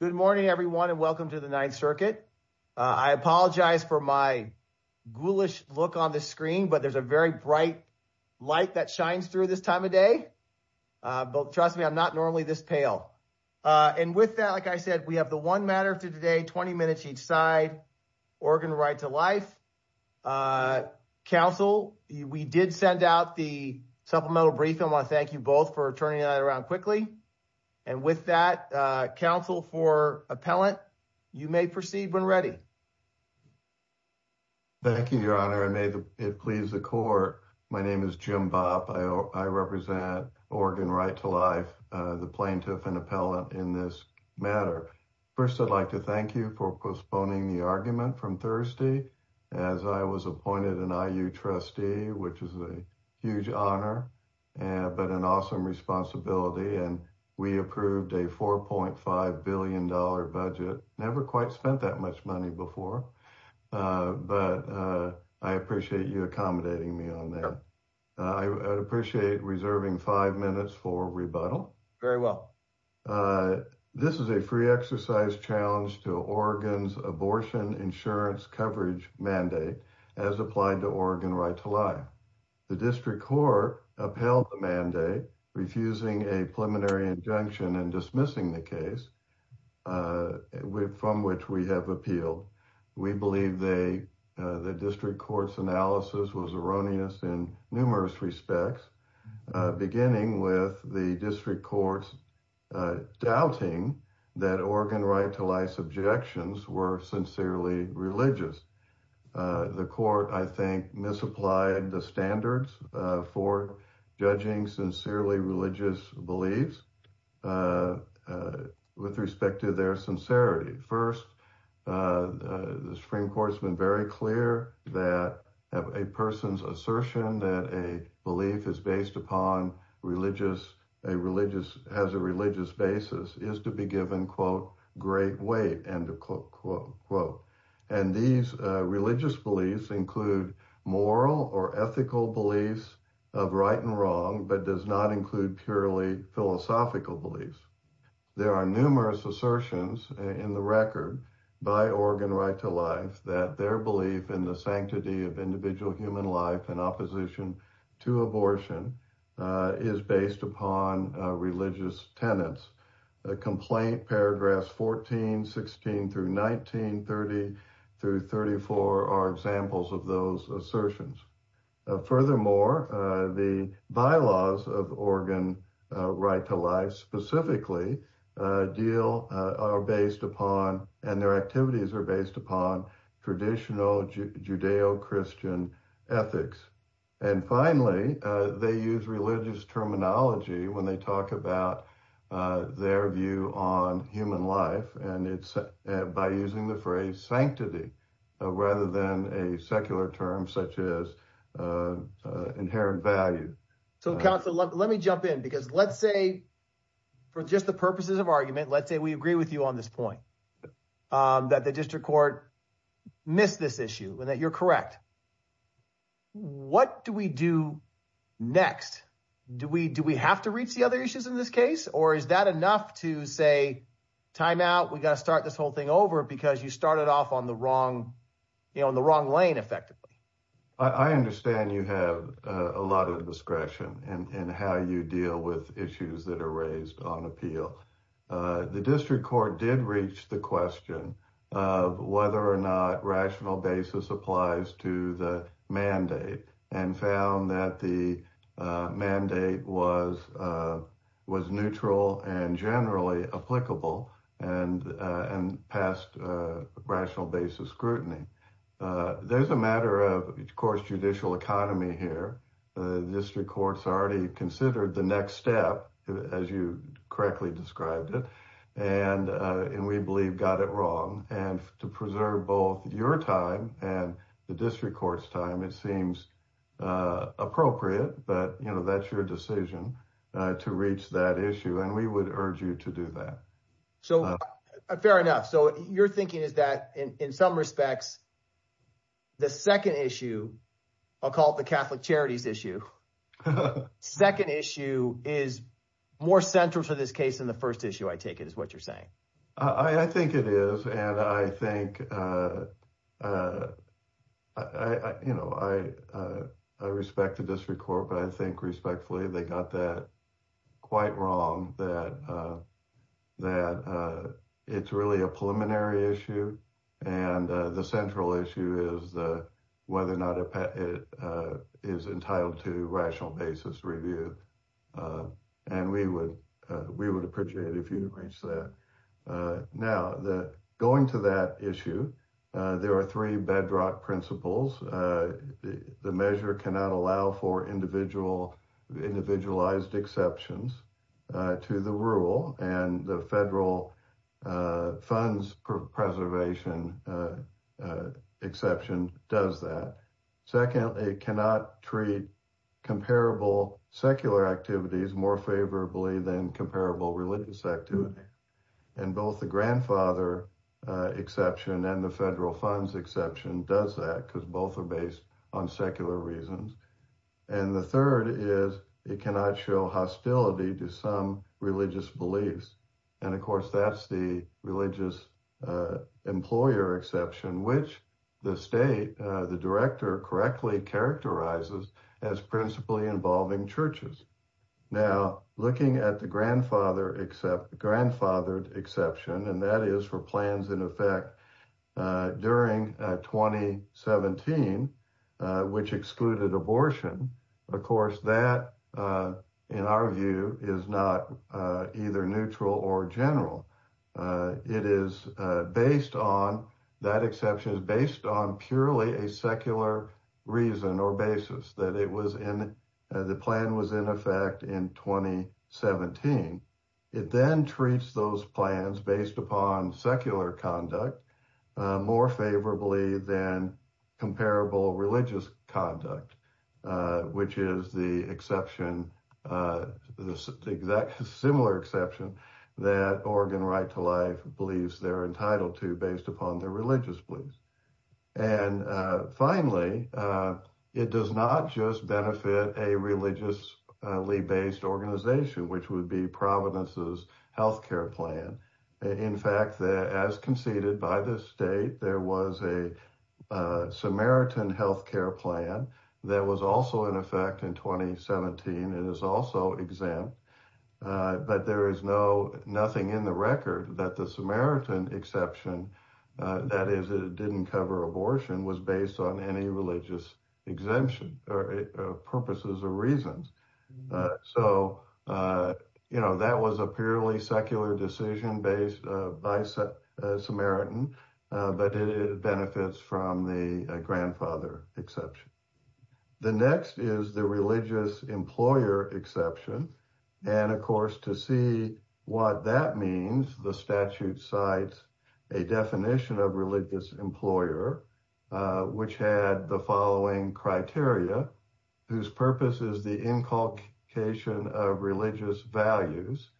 Good morning everyone and welcome to the Ninth Circuit. I apologize for my ghoulish look on the screen, but there's a very bright light that shines through this time of day. Trust me, I'm not normally this pale. And with that, like I said, we have the one matter for today, 20 minutes each side, Oregon Right To Life. Council, we did send out the supplemental brief. I want to thank you both for turning that around quickly. And with that, Council for Appellant, you may proceed when ready. Thank you, Your Honor, and may it please the Court. My name is Jim Bopp. I represent Oregon Right To Life, the plaintiff and appellant in this matter. First, I'd like to thank you for postponing the argument from Thursday as I was appointed an IU trustee, which is a huge honor but an awesome responsibility. And we approved a $4.5 billion budget, never quite spent that much money before. But I appreciate you accommodating me on that. I appreciate reserving five minutes for rebuttal. Very well. This is a free exercise challenge to Oregon's abortion insurance coverage mandate as applied to Oregon Right To Life. The district court upheld the mandate, refusing a preliminary injunction and dismissing the case from which we have appealed. We believe the district court's analysis was erroneous in numerous respects, beginning with the district court's doubting that Oregon Right To Life's objections were sincerely religious. The court, I think, misapplied the standards for judging sincerely religious beliefs with respect to their sincerity. First, the Supreme Court's been very clear that a person's assertion that a belief is based upon a religious basis is to be given, quote, great weight, end of quote. And these religious beliefs include moral or ethical beliefs of right and wrong, but does not include purely philosophical beliefs. There are numerous assertions in the record by Oregon Right To Life that their belief in the sanctity of individual human life and opposition to abortion is based upon religious tenets. The complaint paragraphs 14, 16, through 19, 30, through 34 are examples of those assertions. Furthermore, the bylaws of Oregon Right To Life specifically are based upon, and their activities are based upon, traditional Judeo-Christian ethics. And finally, they use religious terminology when they talk about their view on human life, and it's by using the phrase sanctity rather than a secular term such as inherent value. So, counsel, let me jump in because let's say, for just the purposes of let's say we agree with you on this point, that the district court missed this issue and that you're correct. What do we do next? Do we have to reach the other issues in this case, or is that enough to say, time out, we got to start this whole thing over because you started off on the wrong, you know, on the wrong lane effectively? I understand you have a lot of discretion in how you deal with issues that are raised on appeal. The district court did reach the question of whether or not rational basis applies to the mandate and found that the mandate was neutral and generally applicable and passed rational basis scrutiny. There's a matter of, of course, judicial economy here. The district courts already considered the next step, as you correctly described it, and we believe got it wrong. And to preserve both your time and the district court's time, it seems appropriate, but, you know, that's your decision to reach that issue and we would urge you to do that. So, fair enough. So, your thinking is that in some respects, the second issue, I'll call it the Catholic Charities issue, second issue is more central to this case than the first issue, I take it is what you're saying. I think it is. And I think, you know, I respect the district court, but I think respectfully, they got that quite wrong, that it's really a preliminary issue. And the central issue is whether or not it is entitled to rational basis review. And we would, we would appreciate if you didn't reach that. Now, going to that issue, there are three bedrock principles. The measure cannot allow for individualized exceptions to the rule and the federal funds preservation exception does that. Secondly, it cannot treat comparable secular activities more favorably than comparable religious activity. And both the grandfather exception and the federal funds exception does that because both are based on secular reasons. And the third is it cannot show hostility to some religious beliefs. And of course, that's the religious employer exception, which the state, the director correctly characterizes as principally involving churches. Now, looking at the grandfather except grandfathered exception, and that is for plans in effect during 2017, which excluded abortion, of course, that, in our view is not either neutral or general. It is based on that exception is based on purely a secular reason or basis that it was in the plan was in effect in 2017. It then treats those plans based upon secular conduct more favorably than comparable religious conduct, which is the exception, the exact similar exception that Oregon right to life believes they're entitled to based upon their religious beliefs. And finally, it does not just benefit a religiously-based organization, which would be Providence's health care plan. In fact, as conceded by the state, there was a Samaritan health care plan that was also in effect in 2017. It is also exempt, but there is no nothing in the record that the Samaritan exception, that is, it didn't cover abortion was based on any religious exemption or purposes or reasons. So, you know, that was a purely secular decision based by Samaritan, but it benefits from the exception. The next is the religious employer exception. And of course, to see what that means, the statute cites a definition of religious employer, which had the following criteria, whose purpose is the inculcation of religious values.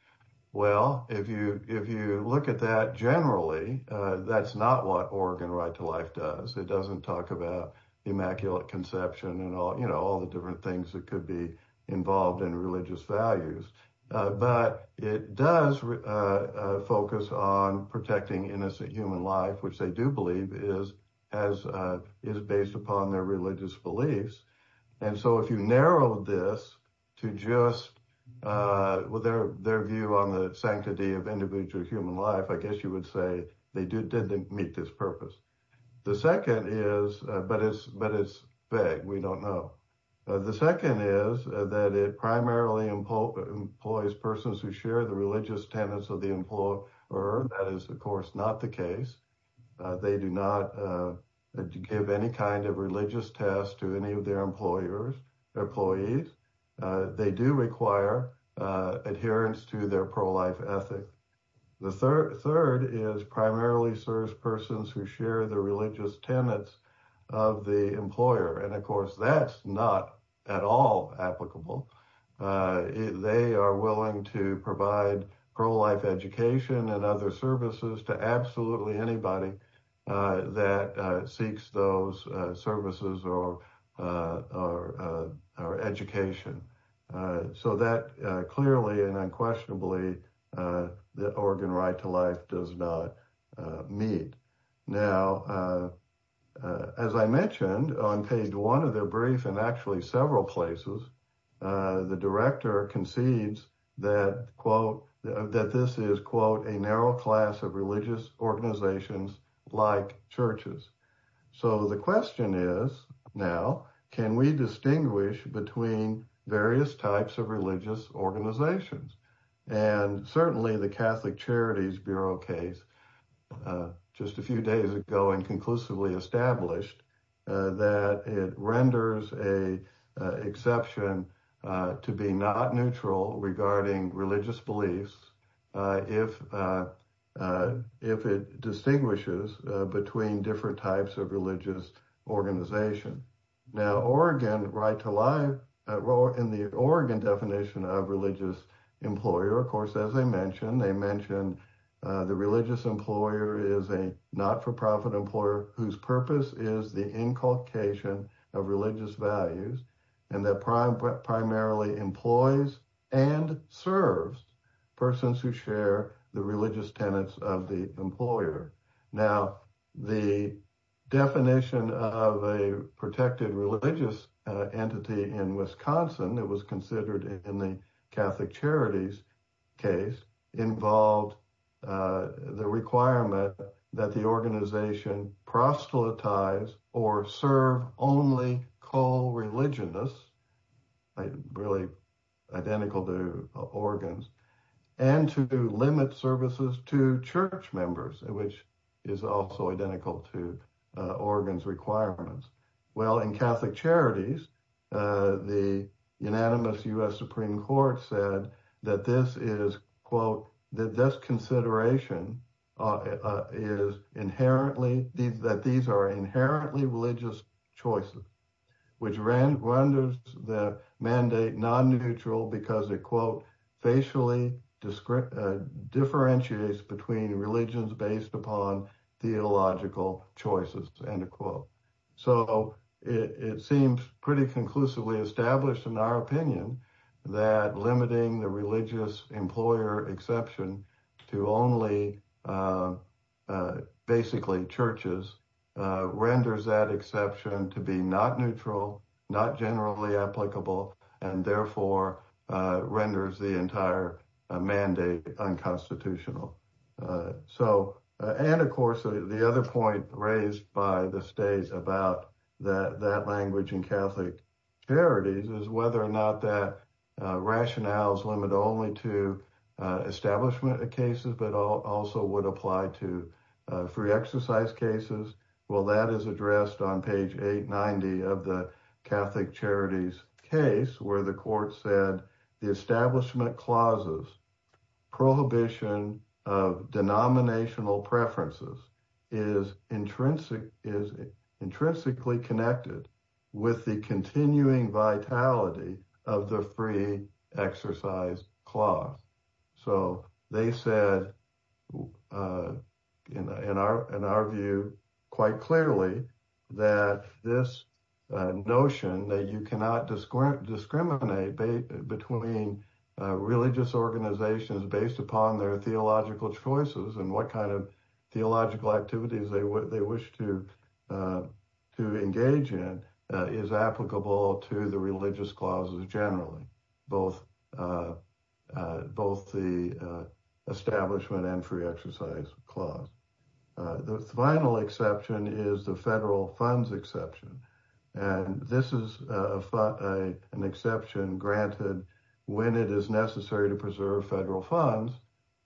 Well, if you if you look at that, generally, that's not what Oregon right to life does. It doesn't talk about immaculate conception and all, you know, all the different things that could be involved in religious values. But it does focus on protecting innocent human life, which they do believe is as is based upon their religious beliefs. And so if you narrow this to just their view on the sanctity of individual human life, I guess you would say they did didn't meet this purpose. The second is, but it's but it's vague. We don't know. The second is that it primarily employs persons who share the religious tenets of the employer. That is, of course, not the case. They do not give any kind of religious test to any of their employers or employees. They do require adherence to their pro-life ethic. The third third is primarily service persons who share the religious tenets of the employer. And of course, that's not at all applicable. They are willing to provide pro-life education and other services to absolutely anybody that seeks those services or education. So that clearly and unquestionably, the Oregon right to life does not meet. Now, as I mentioned on page one of their brief and actually several places, the director concedes that, quote, that this is, quote, a narrow class of religious organizations like churches. So the question is now, can we distinguish between various types of religious organizations? And certainly the Catholic Charities Bureau case just a few days ago and inclusively established that it renders a exception to be not neutral regarding religious beliefs if if it distinguishes between different types of religious organization. Now, Oregon right to life in the Oregon definition of religious employer, of course, as I mentioned, they mentioned the religious employer is a not for profit employer whose purpose is the inculcation of religious values and that primarily employs and serves persons who share the religious tenets of the employer. Now, the definition of a protected religious entity in Wisconsin, it was considered in the Catholic Charities case involved the requirement that the organization proselytize or serve only call religion. This is really identical to Oregon's and to limit services to church members, which is also identical to Oregon's requirements. Well, in Catholic Charities, the unanimous U.S. Supreme Court said that this is, quote, that this consideration is inherently that these are inherently religious choices, which renders the mandate non-neutral because it, quote, facially described differentiates between religions based upon theological choices and a quote. So it seems pretty conclusively established in our opinion that limiting the religious employer exception to only basically churches renders that exception to be not neutral, not generally applicable, and therefore renders the entire mandate unconstitutional. So, and of course, the other point raised by the states about that language in Catholic Charities is whether or not that rationale is limited only to establishment cases, but also would apply to free exercise cases. Well, that is addressed on page 890 of the Catholic Charities case where the court said the establishment clauses prohibition of denominational preferences is intrinsic, is intrinsically connected with the continuing vitality of the free exercise clause. So they said, in our view, quite clearly that this notion that you cannot discriminate between religious organizations based upon their theological choices and what kind of theological activities they wish to engage in is applicable to the religious clauses generally, both the establishment and free exercise clause. The final exception is the federal funds exception. And this is an exception granted when it is necessary to preserve federal funds.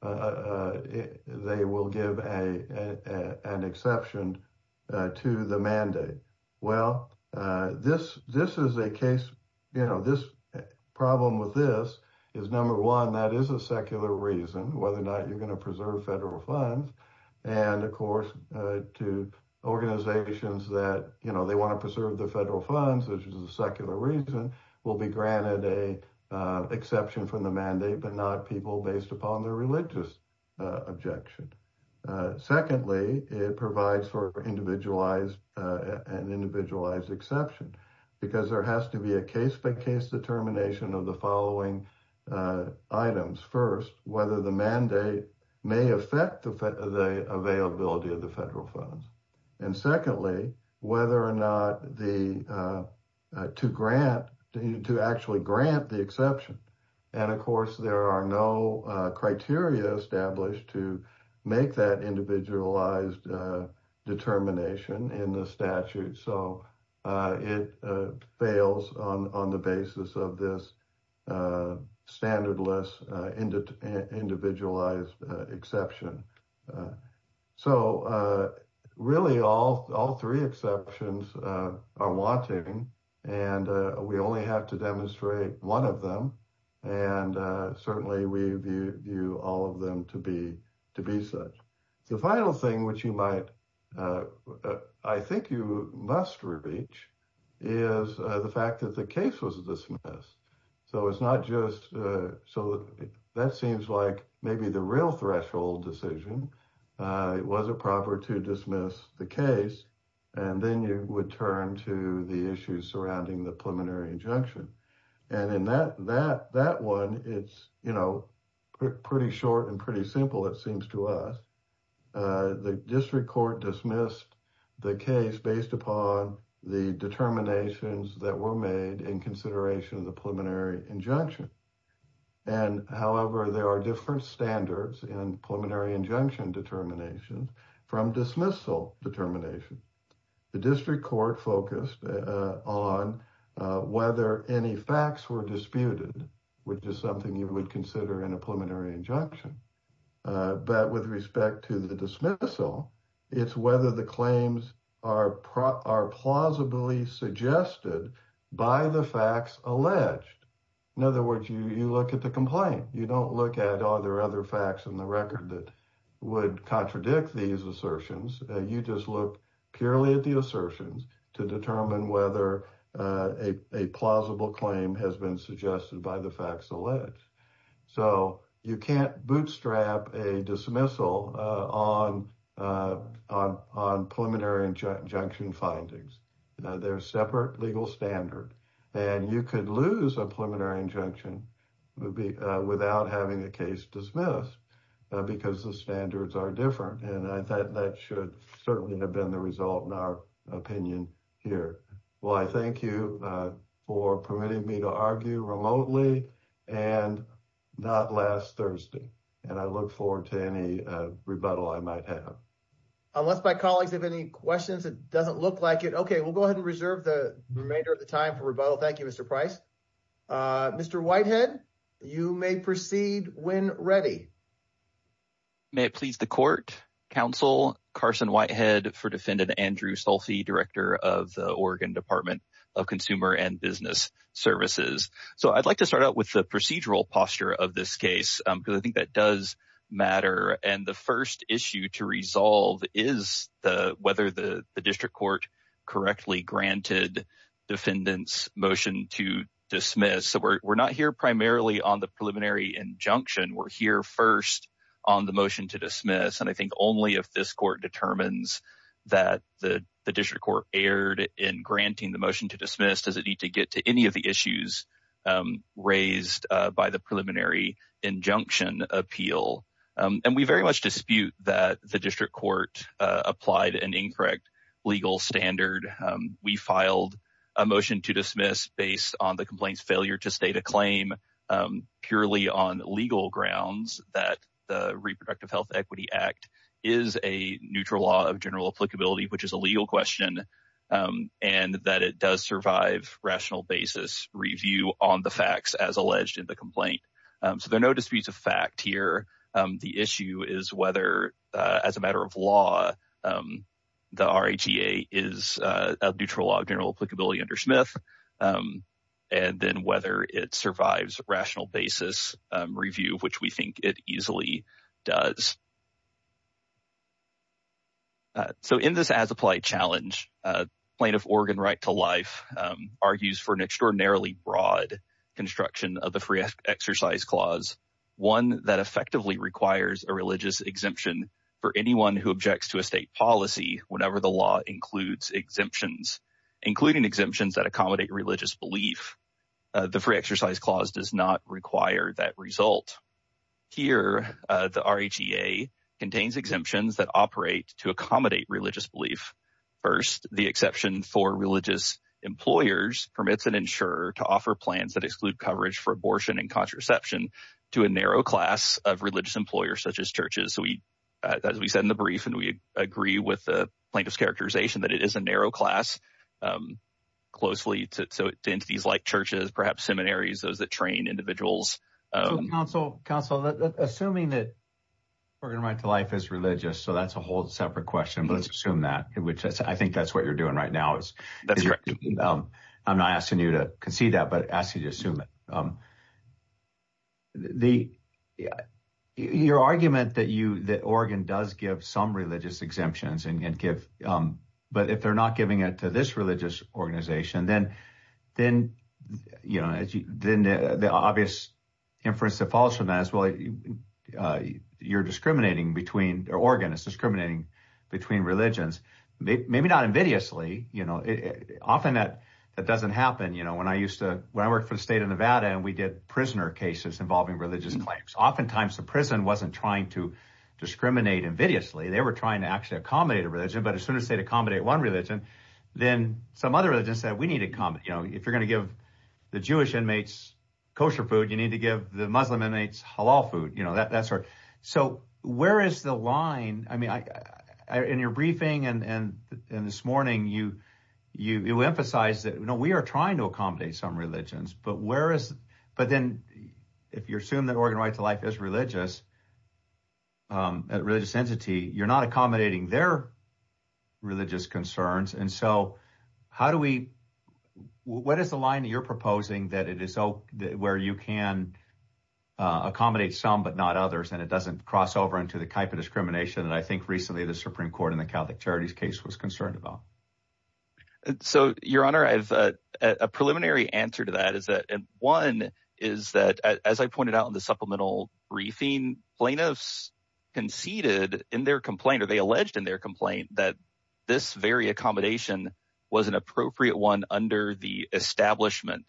They will give an exception to the mandate. Well, this is a case, you know, this problem with this is number one, that is a secular reason whether or not you're going to preserve federal funds. And of course, to organizations that, you know, they want to preserve the federal funds, which is a secular reason, will be granted a exception from the mandate, but not people based upon their religious objection. Secondly, it provides for an individualized exception, because there has to be a case-by-case determination of the following items. First, whether the mandate may affect the availability of the federal funds. And secondly, whether or not to actually grant the exception. And of course, there are no criteria established to make that individualized determination in the statute. So, it fails on the basis of this standardless individualized exception. So, really all three exceptions are wanting, and we only have to demonstrate one of them. And certainly, we view all of them to be such. The final thing, which you might, I think you must reach, is the fact that the case was dismissed. So, it's not just, so that seems like maybe the real threshold decision. It wasn't proper to dismiss the case, and then you would turn to the issues surrounding the preliminary injunction. And in that one, it's, you know, pretty short and pretty simple, it seems to us. The district court dismissed the case based upon the determinations that were made in consideration of the preliminary injunction. And however, there are different standards in preliminary injunction determination from dismissal determination. The district court focused on whether any facts were disputed, which is something you would consider in a preliminary injunction. But with respect to the dismissal, it's whether the claims are plausibly suggested by the facts alleged. In other words, you look at the complaint. You don't look at, are there other facts in the record that would contradict these assertions? You just look purely at the assertions to determine whether a plausible claim has been suggested by the facts alleged. So, you can't bootstrap a dismissal on preliminary injunction findings. They're a separate legal standard. And you could lose a preliminary injunction without having the dismissal because the standards are different. And I thought that should certainly have been the result in our opinion here. Well, I thank you for permitting me to argue remotely and not last Thursday. And I look forward to any rebuttal I might have. Unless my colleagues have any questions, it doesn't look like it. Okay, we'll go ahead and reserve the remainder of the time for rebuttal. Thank you, Mr. Price. Mr. Whitehead, you may proceed when ready. May it please the court, counsel, Carson Whitehead for defendant Andrew Sulfi, director of the Oregon Department of Consumer and Business Services. So, I'd like to start out with the procedural posture of this case because I think that does matter. And the first issue to resolve is whether the district court correctly granted defendant's motion to dismiss. So, we're not here primarily on the preliminary injunction. We're here first on the motion to dismiss. And I think only if this court determines that the district court erred in granting the motion to dismiss does it need to get to any of the issues raised by the preliminary injunction appeal. And we very much dispute that the district court applied an incorrect legal standard. We filed a motion to dismiss based on the complaint's failure to state a claim purely on legal grounds that the Reproductive Health Equity Act is a neutral law of general applicability, which is a legal question, and that it does survive rational basis review on the facts as alleged in the complaint. So, there are no disputes of fact here. The issue is whether, as a matter of law, the RAGA is a neutral law of general applicability under Smith, and then whether it survives rational basis review, which we think it easily does. So, in this as applied challenge, plaintiff Oregon right to life argues for an extraordinarily broad construction of the free exercise clause, one that effectively requires a religious exemption for anyone who objects to a state policy whenever the law includes exemptions, including exemptions that accommodate religious belief. The free exercise clause does not require that result. Here, the RAGA contains exemptions that operate to accommodate religious belief. First, the exception for religious employers permits an insurer to offer plans that exclude coverage for abortion and contraception to a narrow class of religious employers, such as churches. So, as we said in the brief, and we agree with the plaintiff's characterization that it is a narrow class closely to entities like churches, perhaps seminaries, those that train individuals. So, counsel, assuming that Oregon right to life is religious, so that's a whole separate question, but let's assume that, which I think that's what you're doing right now. I'm not asking you to concede that, but asking you to assume it. Your argument that Oregon does give some religious exemptions and give, but if they're not giving it to this religious organization, then the obvious inference that is, well, you're discriminating between, or Oregon is discriminating between religions, maybe not invidiously, you know, often that doesn't happen. You know, when I used to, when I worked for the state of Nevada and we did prisoner cases involving religious claims, oftentimes the prison wasn't trying to discriminate invidiously. They were trying to actually accommodate a religion, but as soon as they'd accommodate one religion, then some other religions said we need to come, you know, if you're going to give the Jewish inmates kosher food, you need to give the Muslim inmates halal food, you know, that sort of, so where is the line? I mean, I, I, in your briefing and, and, and this morning you, you, you emphasize that, you know, we are trying to accommodate some religions, but where is, but then if you're assuming that Oregon right to life is religious, at religious entity, you're not accommodating their religious concerns. And so how do we, what is the line that you're proposing that it is so where you can accommodate some, but not others. And it doesn't cross over into the type of discrimination. And I think recently the Supreme court in the Catholic charities case was concerned about. So your honor, I have a preliminary answer to that is that one is that as I pointed out in the supplemental briefing plaintiffs conceded in their complaint, or they alleged in their complaint that this very accommodation was an appropriate one under the establishment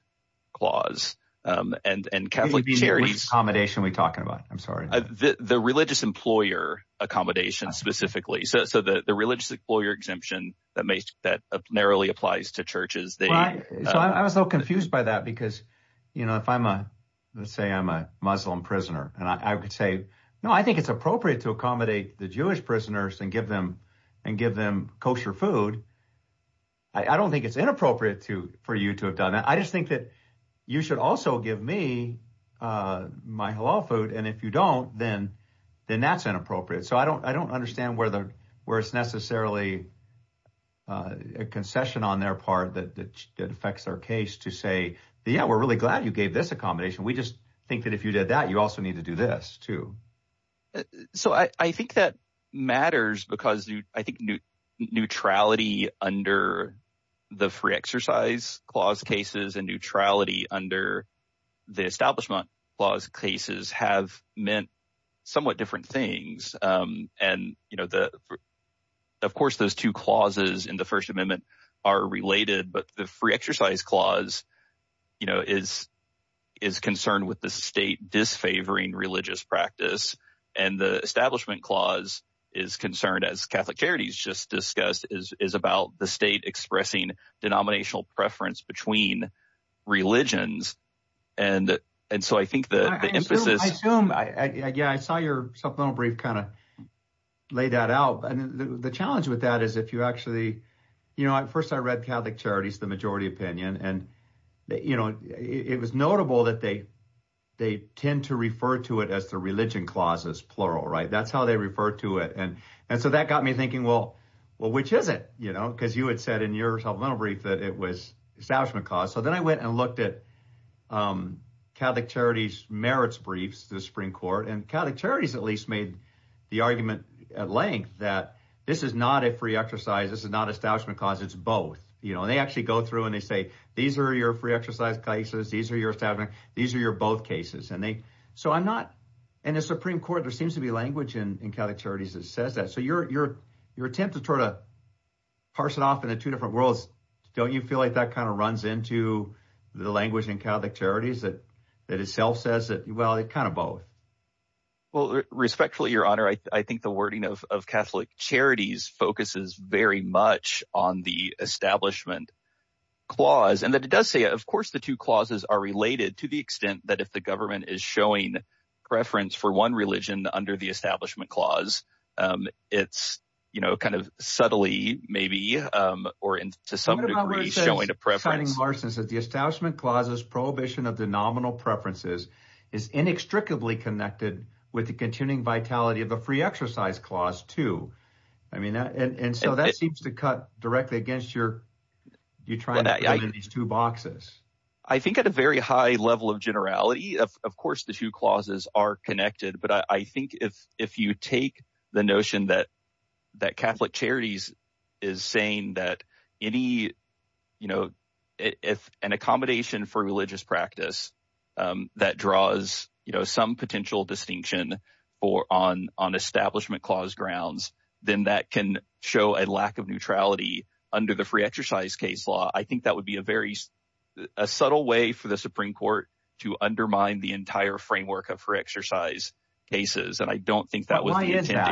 clause. Um, and, and Catholic charities accommodation we talking about, I'm sorry, the religious employer accommodation specifically. So, so the religious employer exemption that makes that narrowly applies to churches. So I was so confused by that because, you know, if I'm a, let's say I'm a Muslim prisoner and I could say, no, I think it's appropriate to accommodate the Jewish prisoners and give them and give them kosher food. I don't think it's inappropriate to, for you to have done that. I just think that you should also give me, uh, my hello food. And if you don't, then, then that's inappropriate. So I don't, I don't understand where the, where it's necessarily, uh, a concession on their part that, that affects our case to say, yeah, we're really glad you gave this accommodation. We just think that if you did that, you also need to do this too. Uh, so I, I think that matters because I think new neutrality under the free exercise clause cases and neutrality under the establishment clause cases have meant somewhat different things. Um, and you know, the, of course those two clauses in the first amendment are related, but the free exercise clause, you know, is, is concerned with the disfavoring religious practice. And the establishment clause is concerned as Catholic charities just discussed is, is about the state expressing denominational preference between religions. And, and so I think the emphasis, I assume I, yeah, I saw your supplemental brief kind of lay that out. And the challenge with that is if you actually, you know, first I read Catholic charities, the majority opinion, and you know, it was notable that they, they tend to refer to it as the religion clauses, plural, right. That's how they refer to it. And, and so that got me thinking, well, well, which is it, you know, cause you had said in your supplemental brief that it was establishment cause. So then I went and looked at, um, Catholic charities, merits briefs, the spring court and Catholic charities at least made the argument at length that this is not a free exercise. This is not establishment cause it's both, you know, and they actually go through and they say, these are your free exercise cases. These are your establishment. These are your both cases. And they, so I'm not in the Supreme court. There seems to be language in, in Catholic charities that says that. So your, your, your attempt to try to parse it off into two different worlds. Don't you feel like that kind of runs into the language in Catholic charities that, that itself says that, well, it kind of both. Well, respectfully, your honor, I think the wording of, of Catholic charities focuses very much on the establishment clause. And that it does say, of course, the two clauses are related to the extent that if the government is showing preference for one religion under the establishment clause, um, it's, you know, kind of subtly maybe, um, or in, to some degree, showing a preference the establishment clauses prohibition of the nominal preferences is inextricably connected with the continuing vitality of the free exercise clause too. I mean, that, and, and so that seems to cut directly against your, you're trying to put in these two boxes. I think at a very high level of generality, of course, the two clauses are connected, but I think if, if you take the notion that, that Catholic charities is saying that any, you know, if an accommodation for religious practice, um, that draws, you know, some potential distinction for on, on establishment clause grounds, then that can show a lack of neutrality under the free exercise case law. I think that would be a very, a subtle way for the Supreme court to undermine the entire framework of free exercise cases. And I don't think that was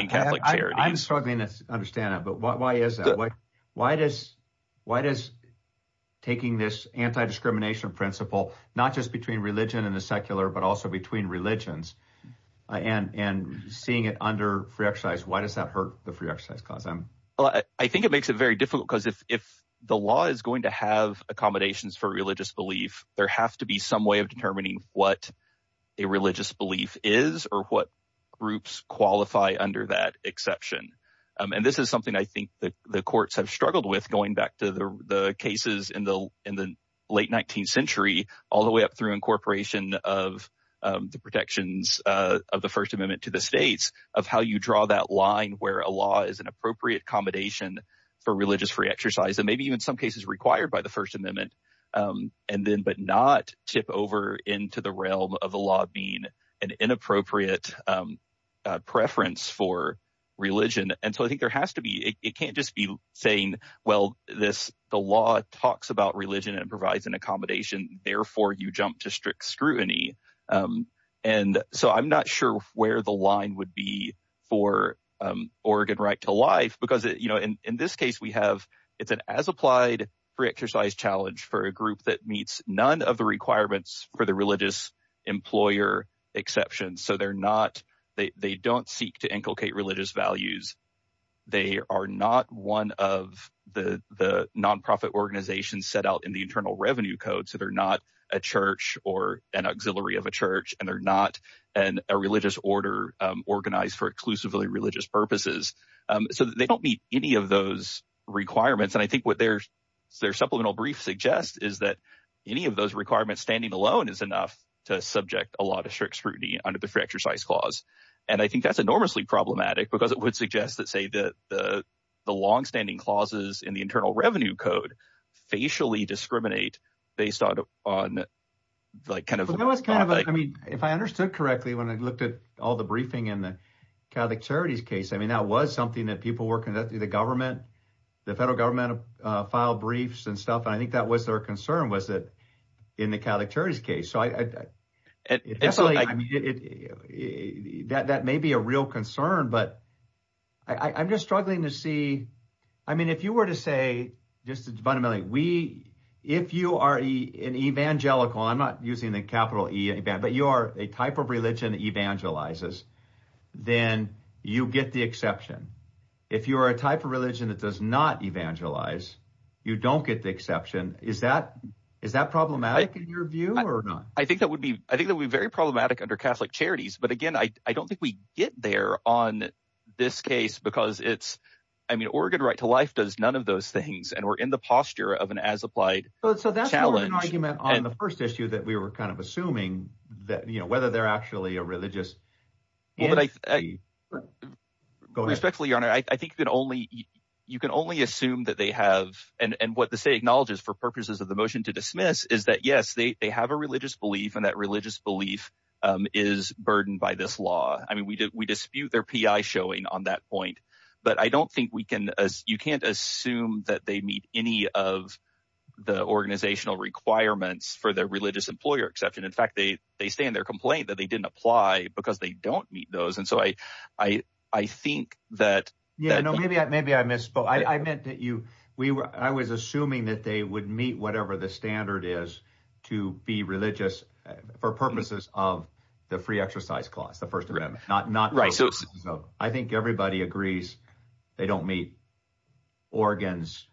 Catholic charity. I'm struggling to understand it, but why, why is that? Why, why does, why does taking this anti-discrimination principle, not just between religion and the secular, but also between religions and, and seeing it under free exercise, why does that hurt the free exercise class? I think it makes it very difficult because if, if the law is going to have accommodations for religious belief, there has to be some way of determining what a religious belief is or what groups qualify under that exception. Um, and this is something I think that the courts have with going back to the cases in the, in the late 19th century, all the way up through incorporation of, um, the protections, uh, of the first amendment to the States of how you draw that line where a law is an appropriate accommodation for religious free exercise, and maybe even some cases required by the first amendment. Um, and then, but not tip over into the realm of the law being an inappropriate, um, uh, preference for religion. And so I think there has to be, it can't just be saying, well, this, the law talks about religion and provides an accommodation. Therefore you jump to strict scrutiny. Um, and so I'm not sure where the line would be for, um, Oregon right to life, because you know, in this case we have, it's an as applied free exercise challenge for a group that meets none of the requirements for the religious employer exceptions. So they're not, they, they don't seek to inculcate religious values. They are not one of the, the nonprofit organizations set out in the internal revenue code. So they're not a church or an auxiliary of a church, and they're not an, a religious order, um, organized for exclusively religious purposes. Um, so they don't meet any of those requirements. And I think what their, their supplemental brief suggests is that any of those requirements standing alone is enough to subject a lot of strict scrutiny under the free exercise clause. And I think that's enormously problematic because it would suggest that say that the, the longstanding clauses in the internal revenue code facially discriminate based on, on like kind of, I mean, if I understood correctly, when I looked at all the briefing in the Catholic charities case, I mean, that was something that people were conducting the government, the federal government, uh, file briefs and stuff. And I think that was their concern was that in the Catholic church case. So I, that may be a real concern, but I I'm just struggling to see, I mean, if you were to say just fundamentally, we, if you are an evangelical, I'm not using the capital E, but you are a type of religion that evangelizes, then you get the exception. If you are a type of religion that does not evangelize, you don't get the exception. Is that, is that problematic in your view or not? I think that would be, I think that would be very problematic under Catholic charities, but again, I don't think we get there on this case because it's, I mean, Oregon right to life does none of those things. And we're in the posture of an as applied. So that's an argument on the first issue that we were kind of assuming that, you know, whether they're actually a religious, respectfully, your honor, I think that only you can only assume that they have, and what the state acknowledges for purposes of the motion to dismiss is that yes, they have a religious belief and that religious belief is burdened by this law. I mean, we did, we dispute their PI showing on that point, but I don't think we can, as you can't assume that they meet any of the organizational requirements for their religious employer exception. In fact, they, they stay in their complaint that they didn't apply because they don't meet those. And so I, I, I think that. Yeah, no, maybe I, maybe I misspoke. I meant that you, we were, I was assuming that they would meet whatever the standard is to be religious for purposes of the free exercise clause, the first amendment, not, not right. So I think everybody agrees they don't meet Oregon's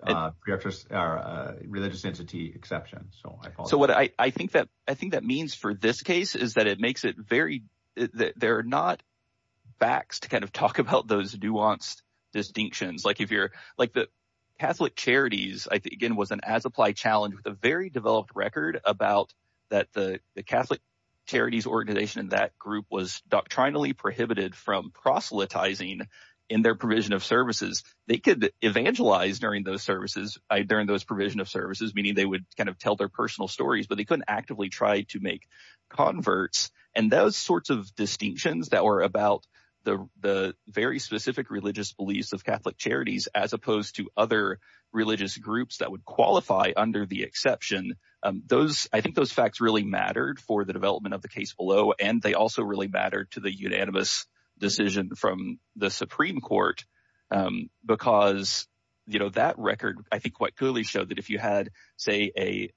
religious or religious entity exception. So, so what I think I think that means for this case is that it makes it very, they're not backs to kind of talk about those nuanced distinctions. Like if you're like the Catholic charities, I think again, was an as applied challenge with a very developed record about that. The Catholic charities organization in that group was doctrinally prohibited from proselytizing in their provision of services. They could evangelize during those services during those provision of services, they would kind of tell their personal stories, but they couldn't actively try to make converts. And those sorts of distinctions that were about the, the very specific religious beliefs of Catholic charities, as opposed to other religious groups that would qualify under the exception. Those, I think those facts really mattered for the development of the case below. And they also really mattered to the unanimous decision from the Supreme court, because, you know, that record, I think quite clearly showed that if you had say a,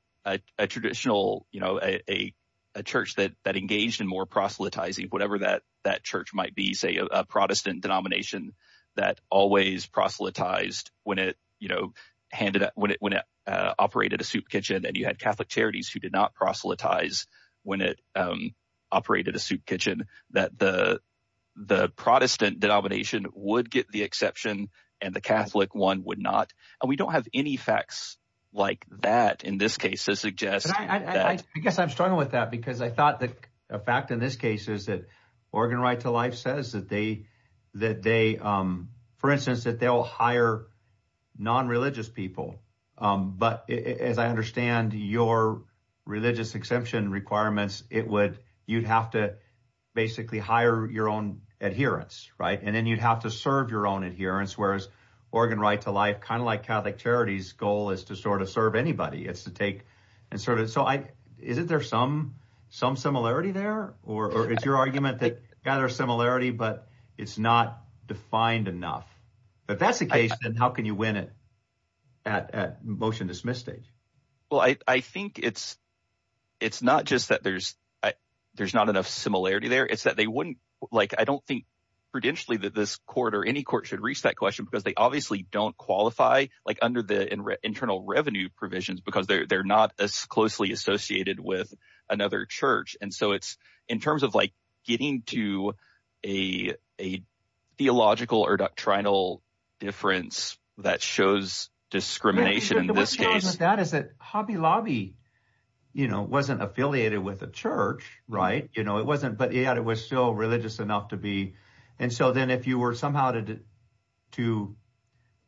a traditional, you know, a, a church that, that engaged in more proselytizing, whatever that, that church might be say a Protestant denomination that always proselytized when it, you know, handed out, when it, when it operated a soup kitchen and you had Catholic charities who did not proselytize when it operated a soup kitchen, that the, the Protestant denomination would get the exception and the Catholic one would not. And we don't have any facts like that in this case to suggest. I guess I'm struggling with that because I thought that a fact in this case is that Oregon right to life says that they, that they for instance, that they'll hire non-religious people. But as I understand your religious exemption requirements, it would, you'd have to basically hire your own adherence, right? And then you'd have to serve your own adherence. Whereas Oregon right to life, kind of like Catholic charities goal is to sort of serve anybody it's to take and sort of, so I, isn't there some, some similarity there, or it's your argument that gather similarity, but it's not defined enough, but that's the case. And how can you win it at, at motion dismiss stage? Well, I, I think it's, it's not just that there's, there's not enough similarity there. It's that they wouldn't like, I don't think prudentially that this court or any court should reach that question because they obviously don't qualify like under the internal revenue provisions, because they're, they're not as closely associated with another church. And so it's in terms of like getting to a, a theological or trinal difference that shows discrimination in this case, that is that Hobby Lobby, you know, wasn't affiliated with a church, right. You know, it wasn't, but yeah, it was still religious enough to be. And so then if you were somehow to, to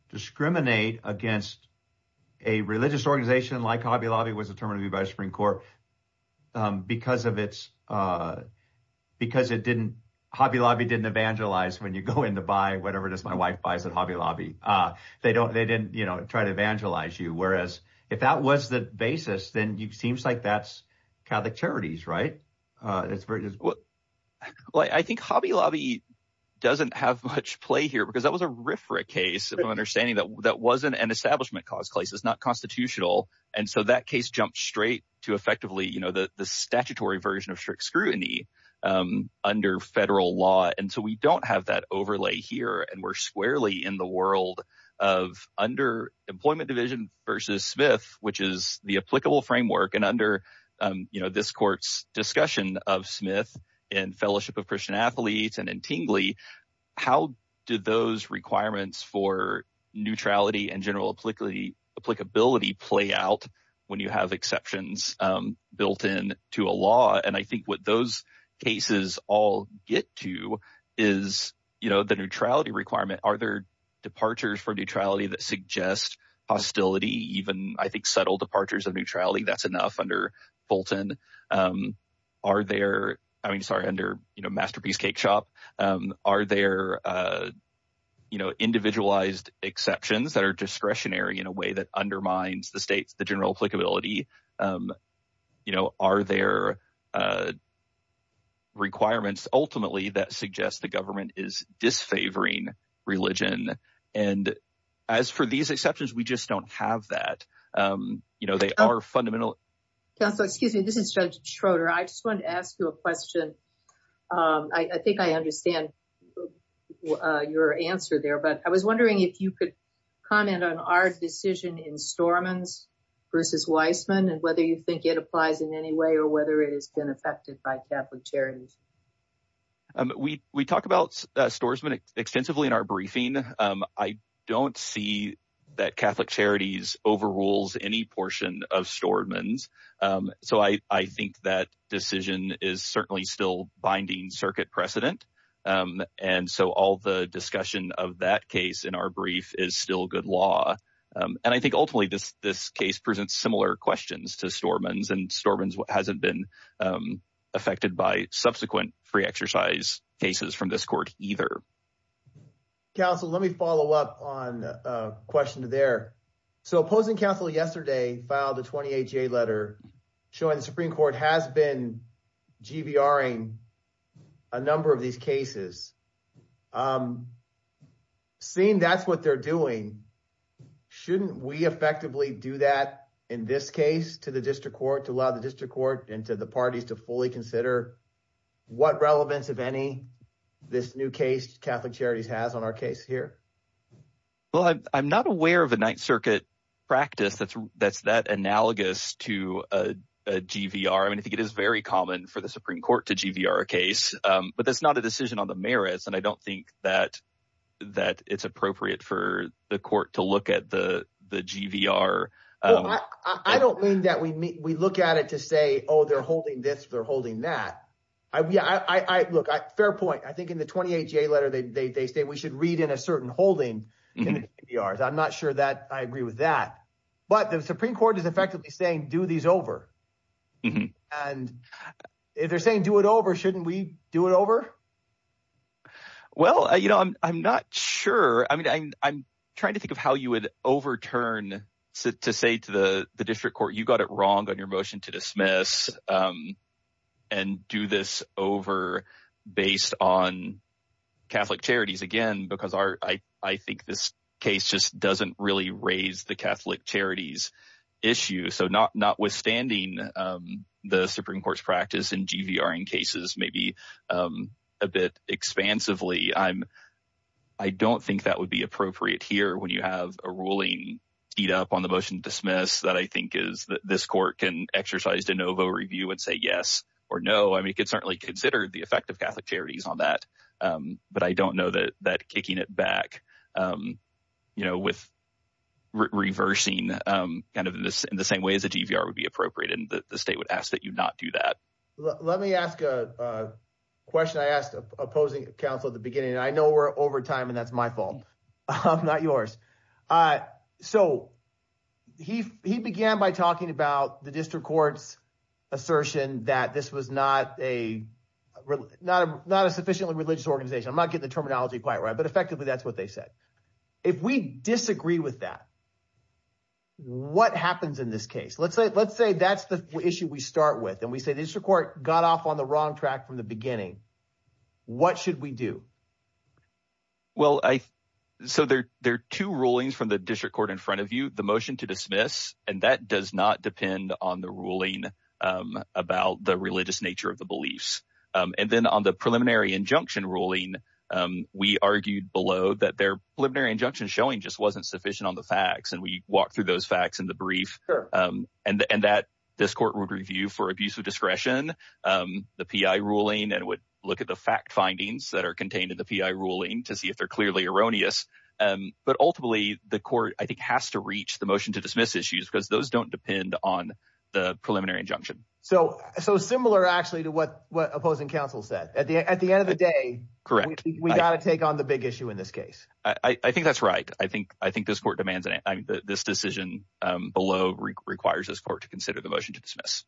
discriminate against a religious organization like Hobby Lobby was determined to be by the Supreme court because of its because it didn't Hobby Lobby didn't evangelize when you go in to buy whatever this, my wife buys at Hobby Lobby. They don't, they didn't, you know, try to evangelize you. Whereas if that was the basis, then you seems like that's Catholic charities, right? It's very, well, I think Hobby Lobby doesn't have much play here because that was a riffraff case of understanding that that wasn't an establishment cause place. It's not constitutional. And so that case jumped straight to effectively, you know, the, the statutory version of strict scrutiny under federal law. And so we don't have that overlay here and we're squarely in the world of under employment division versus Smith, which is the applicable framework. And under, you know, this court's discussion of Smith and fellowship of Christian athletes and in Tingley, how did those requirements for neutrality and general applicability play out when you have exceptions built in to a law? And I think what those cases all get to is, you know, the neutrality requirement, are there departures for neutrality that suggest hostility, even I think subtle departures of neutrality, that's enough under Fulton. Are there, I mean, sorry, under, you know, masterpiece cake shop are there, you know, individualized exceptions that are discretionary in a way that undermines the state's, the general applicability, you know, are there requirements ultimately that suggest the government is disfavoring religion. And as for these exceptions, we just don't have that. You know, they are fundamental. Counselor, excuse me, this is judge Schroeder. I just want to ask you a question. I think I understand your answer there, but I was wondering if you could comment on our decision in Storeman's versus Weissman and whether you think it applies in any way or whether it has been affected by Catholic Charities. We talk about Storesman extensively in our briefing. I don't see that Catholic Charities overrules any portion of Storeman's. So I think that decision is certainly still binding circuit precedent. And so all the discussion of that case in our brief is still good law. And I think ultimately this case presents similar questions to Storeman's and Storeman's hasn't been affected by subsequent free exercise cases from this court either. Counselor, let me follow up on a question there. So opposing counsel yesterday filed a 28-J letter showing the Supreme Court has been GBRing a number of cases. Seeing that's what they're doing, shouldn't we effectively do that in this case to the district court to allow the district court and to the parties to fully consider what relevance, if any, this new case Catholic Charities has on our case here? Well, I'm not aware of a Ninth Circuit practice that's that analogous to a GVR. I mean, I think it is very common for the Supreme Court to GVR a case, but that's not a decision on the merits. And I don't think that it's appropriate for the court to look at the GVR. I don't mean that we look at it to say, oh, they're holding this, they're holding that. Look, fair point. I think in the 28-J letter, they say we should read in a certain holding in the GVRs. I'm not sure that I agree with that. But the Supreme Court is effectively saying do these over. And if they're saying do it over, shouldn't we do it over? Well, you know, I'm not sure. I mean, I'm trying to think of how you would overturn to say to the district court, you got it wrong on your motion to dismiss and do this over based on Catholic Charities again, because I think this case just doesn't really raise the Catholic Charities issue. So notwithstanding the Supreme Court's practice in GVR in cases maybe a bit expansively, I don't think that would be appropriate here when you have a ruling speed up on the motion to dismiss that I think is that this court can exercise de novo review and say yes or no. I mean, it could certainly consider the effect of Catholic Charities on that. But I don't know that kicking it back with reversing kind of in the same way as a GVR would be appropriate and that the state would ask that you not do that. Let me ask a question I asked opposing counsel at the beginning. I know we're over time and that's my fault. I'm not yours. So he began by talking about the district court's assertion that this was not a sufficiently religious organization. I'm not getting the terminology quite right, but effectively, that's what they said. If we disagree with that, what happens in this case? Let's say that's the issue we start with and we say the district court got off on the wrong track from the beginning. What should we do? Well, so there are two rulings from the district court in front of you, the motion to dismiss, and that does not depend on the ruling about the religious nature of the beliefs. And then on the preliminary injunction ruling, we argued below that their preliminary injunction showing just wasn't sufficient on the facts. And we walked through those facts in the brief and that this court would review for abuse of discretion, the PI ruling, and would look at the fact findings that are contained in the PI ruling to see if they're clearly erroneous. But ultimately, the court, I think, has to reach the motion to dismiss. So similar, actually, to what opposing counsel said. At the end of the day, we got to take on the big issue in this case. I think that's right. I think this court demands this decision below requires this court to consider the motion to dismiss.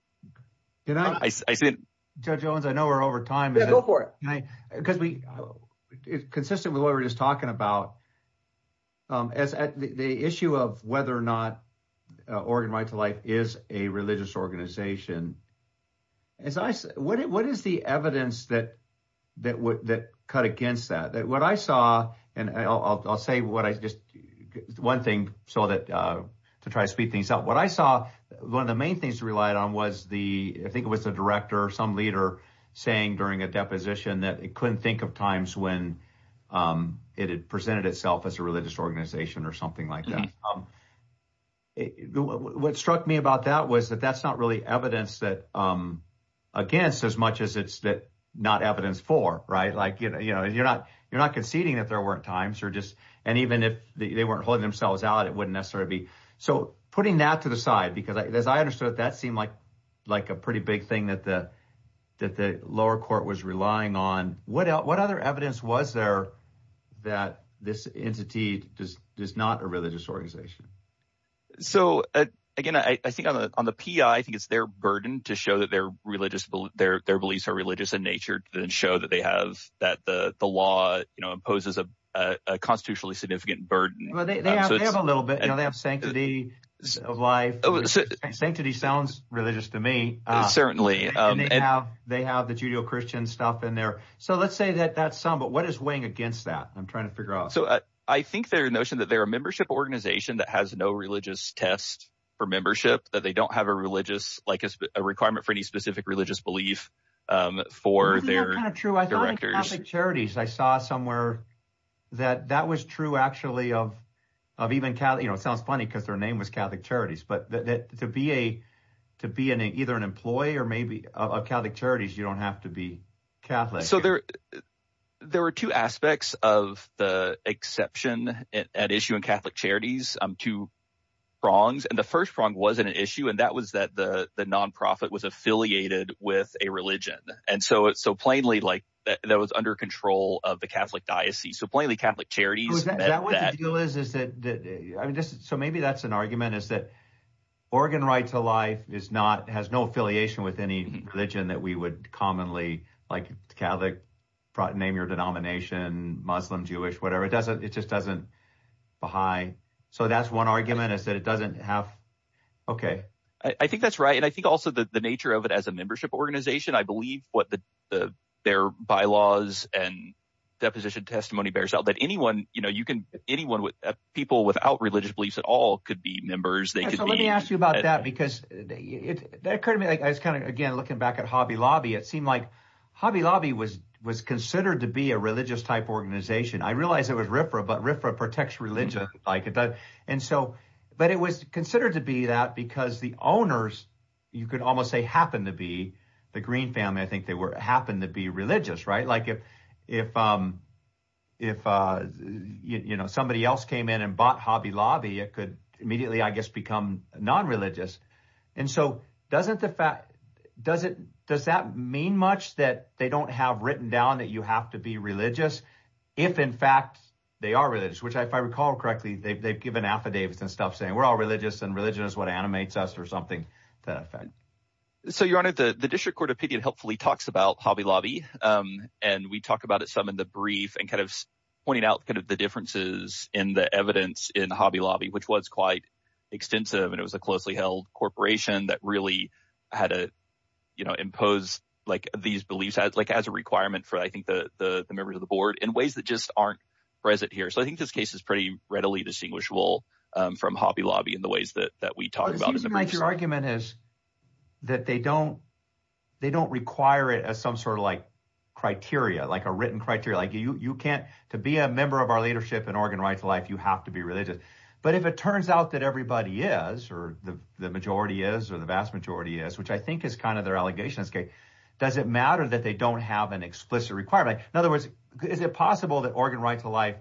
Judge Owens, I know we're over time. Yeah, go for it. It's consistent with what we were just talking about. The issue of whether or not Oregon Right to Life is a religious organization. What is the evidence that cut against that? What I saw, and I'll say one thing to try to speed things up. What I saw, one of the main things to rely on was the, I think it was the director or some leader saying during a deposition that it couldn't think of times when it had presented itself as a religious organization or something like that. What struck me about that was that that's not really evidence that against as much as it's not evidence for. You're not conceding that there weren't times. And even if they weren't holding themselves out, it wouldn't necessarily be. So putting that to the side, because as I understood it, that seemed like a pretty big thing that the lower court was relying on. What other evidence was there that this entity is not a religious organization? So again, I think on the P.I., I think it's their burden to show that their religious, their beliefs are religious in nature and show that they have that the law imposes a constitutionally significant burden. Well, they have a little bit. They have sanctity of life. Sanctity sounds religious to me. Certainly. And they have the Judeo-Christian stuff in there. So let's say that that's some. But what is weighing against that? I'm trying to figure out. So I think their notion that they're a membership organization that has no religious test for membership, that they don't have a religious like a requirement for any specific religious belief for their directors. Charities. I saw somewhere that that was true, actually, of of even, you know, it sounds funny because their name was Catholic Charities. But to be a to be an either an employee or maybe a Catholic Charities, you don't have to be Catholic. So there there were two aspects of the exception at issue in Catholic Charities, two prongs. And the first prong wasn't an issue. And that was that the nonprofit was affiliated with a religion. And so it's so plainly like that was under control of the Catholic Diocese. So plainly Catholic Charities. That was the deal is, is that I mean, so maybe that's an argument is that Oregon right to life is not has no affiliation with any religion that we would commonly like Catholic name, your denomination, Muslim, Jewish, whatever. It doesn't it just doesn't behind. So that's one argument is that it doesn't have. OK, I think that's right. And I think also the nature of it as a membership organization, I believe what the their bylaws and deposition testimony bears out that anyone you know, people without religious beliefs at all could be members. They could. So let me ask you about that, because it occurred to me as kind of, again, looking back at Hobby Lobby, it seemed like Hobby Lobby was was considered to be a religious type organization. I realize it was Riffra, but Riffra protects religion like it does. And so but it was considered to be that because the owners, you could almost say, happen to be the Green family. I think they were happen to be religious. Right. Like if if if, you know, somebody else came in and bought Hobby Lobby, it could immediately, I guess, become nonreligious. And so doesn't the fact does it does that mean much that they don't have written down that you have to be religious if in fact they are religious, which if I recall correctly, they've given affidavits and stuff saying we're all religious and religion is what animates us or something. The fact. So, your honor, the district court opinion helpfully talks about Hobby Lobby and we talk about it some in the brief and kind of pointing out kind of the differences in the evidence in Hobby Lobby, which was quite extensive. And it was a closely held corporation that really had to impose like these beliefs as like as a requirement for, I think, the members of the board in ways that just aren't present here. So I think this case is pretty readily distinguishable from Hobby Lobby in the ways that that we talk about. But your argument is that they don't they don't require it as some sort of like criteria, like a written criteria, like you can't to be a member of our leadership in Oregon right to life. You have to be religious. But if it turns out that everybody is or the majority is or the vast majority is, which I think is kind of their allegations, does it matter that they don't have an explicit requirement? In other words, is it possible that Oregon right to life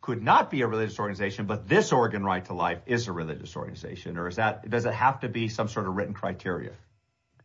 could not be a religious organization, but this Oregon right to life is a religious organization or is that does it have to be some sort of written criteria?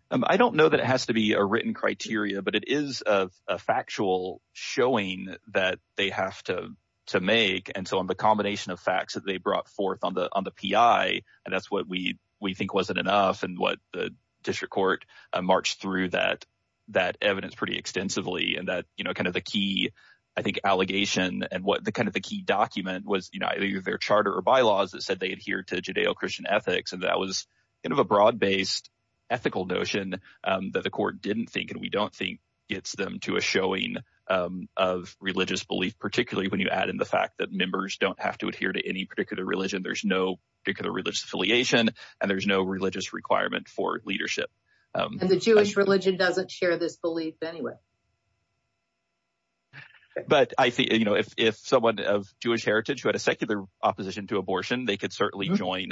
I don't know that it has to be a written criteria, but it is a factual showing that they have to to make. And so on the combination of facts that they brought forth on the on the P.I. and that's what we we think wasn't enough and what the district court marched through that that evidence pretty extensively and you know kind of the key I think allegation and what the kind of the key document was, you know, either their charter or bylaws that said they adhere to Judeo-Christian ethics and that was kind of a broad based ethical notion that the court didn't think and we don't think gets them to a showing of religious belief, particularly when you add in the fact that members don't have to adhere to any particular religion. There's no particular religious affiliation and there's no religious requirement for leadership. And the Jewish religion doesn't share this belief anyway. But I see, you know, if someone of Jewish heritage who had a secular opposition to abortion, they could certainly join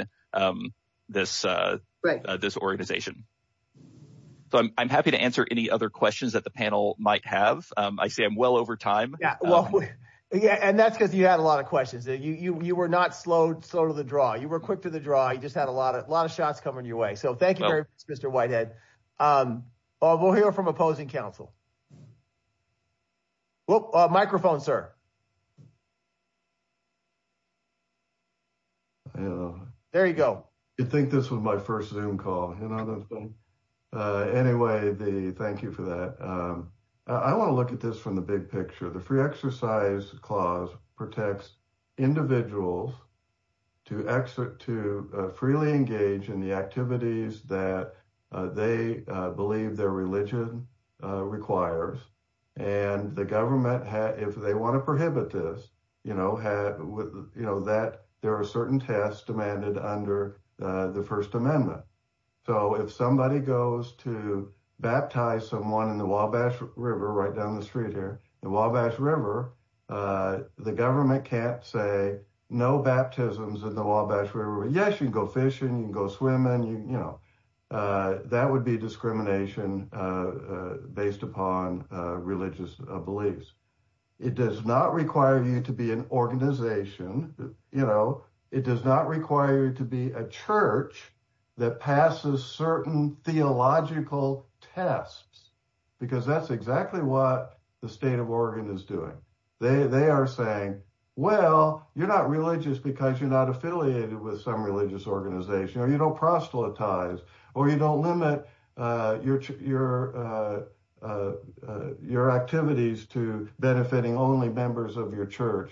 this organization. So I'm happy to answer any other questions that the panel might have. I see I'm well over time. Yeah, well, yeah, and that's because you had a lot of questions. You were not slow to the draw. You were quick to the draw. You just had a lot of a lot of shots coming your way. So thank you very much, Mr. Whitehead. We'll hear from opposing counsel. Microphone, sir. There you go. I think this was my first Zoom call. Anyway, thank you for that. I want to look at this from the big picture. The Free Exercise Clause protects individuals to exit to freely engage in the activities that they believe their religion requires. And the government, if they want to prohibit this, you know, that there are certain tests demanded under the First Amendment. So if somebody goes to baptize someone in the Wabash River, right down the street here, the Wabash River, the government can't say no baptisms in the Wabash River. Yes, you can go fishing and go swimming. You know, that would be discrimination based upon religious beliefs. It does not require you to be an organization. You know, it does not require you to be a church that passes certain theological tests, because that's exactly what the state of Oregon is doing. They are saying, well, you're not religious because you're not affiliated with some religious organization, or you don't proselytize, or you don't limit your activities to benefiting only members of your church.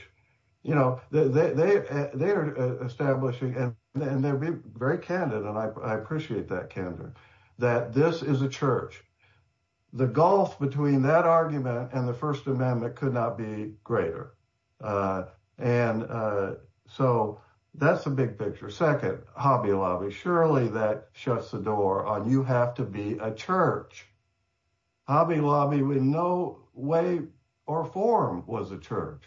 You know, they are establishing, and they're being very candid, and I appreciate that candor, that this is a church. The gulf between that argument and the First Amendment could not be greater. And so that's the big picture. Second, Hobby Lobby, surely that shuts the door on you have to be a church. Hobby Lobby in no way or form was a church.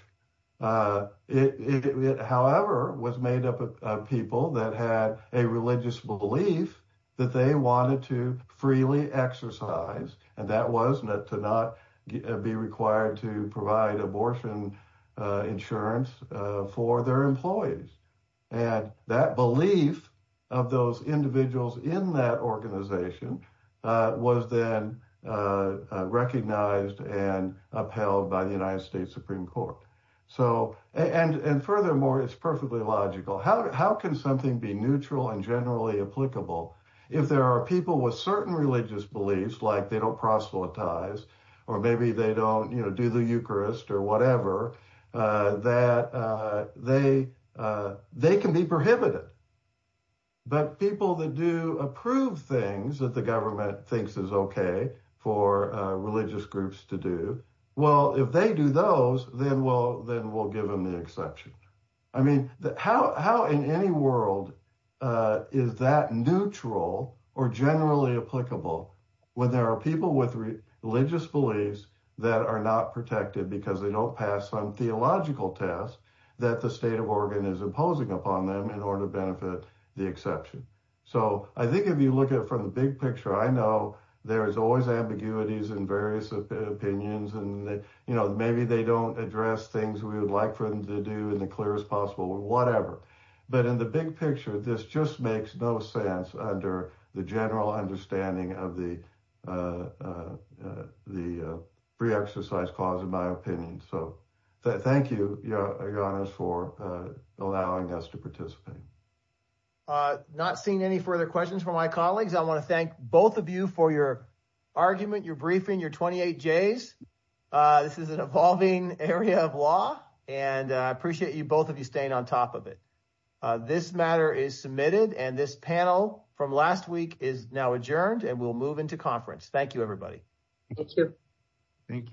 It, however, was made up of people that had a religious belief that they wanted to freely exercise, and that was not to not be required to provide abortion insurance for their employees. And that belief of those individuals in that organization was then recognized and upheld by the United States Supreme Court. And furthermore, it's perfectly logical. How can something be neutral and generally applicable if there are people with certain religious beliefs, like they don't proselytize, or maybe they don't do the Eucharist or whatever, that they can be prohibited? But people that do approve things that the government thinks is okay for religious groups to do, well, if they do those, then we'll give them the exception. I mean, how in any world is that neutral or generally applicable when there are people with religious beliefs that are not protected because they don't pass some theological test that the state of Oregon is imposing upon them in order to benefit the exception? So I think if you look at it from the big picture, I know there's always ambiguities in various opinions, and maybe they don't address things we would like for them to do in the clearest possible way, whatever. But in the big picture, this just makes no sense under the general understanding of the pre-exercise clause, in my opinion. So thank you, Ioannis, for allowing us to participate. I'm not seeing any further questions from my colleagues. I want to thank both of you for your argument, your briefing, your 28 Js. This is an evolving area of law, and I appreciate both of you staying on top of it. This matter is submitted, and this panel from last week is now adjourned, and we'll move into conference. Thank you, everybody. Thank you.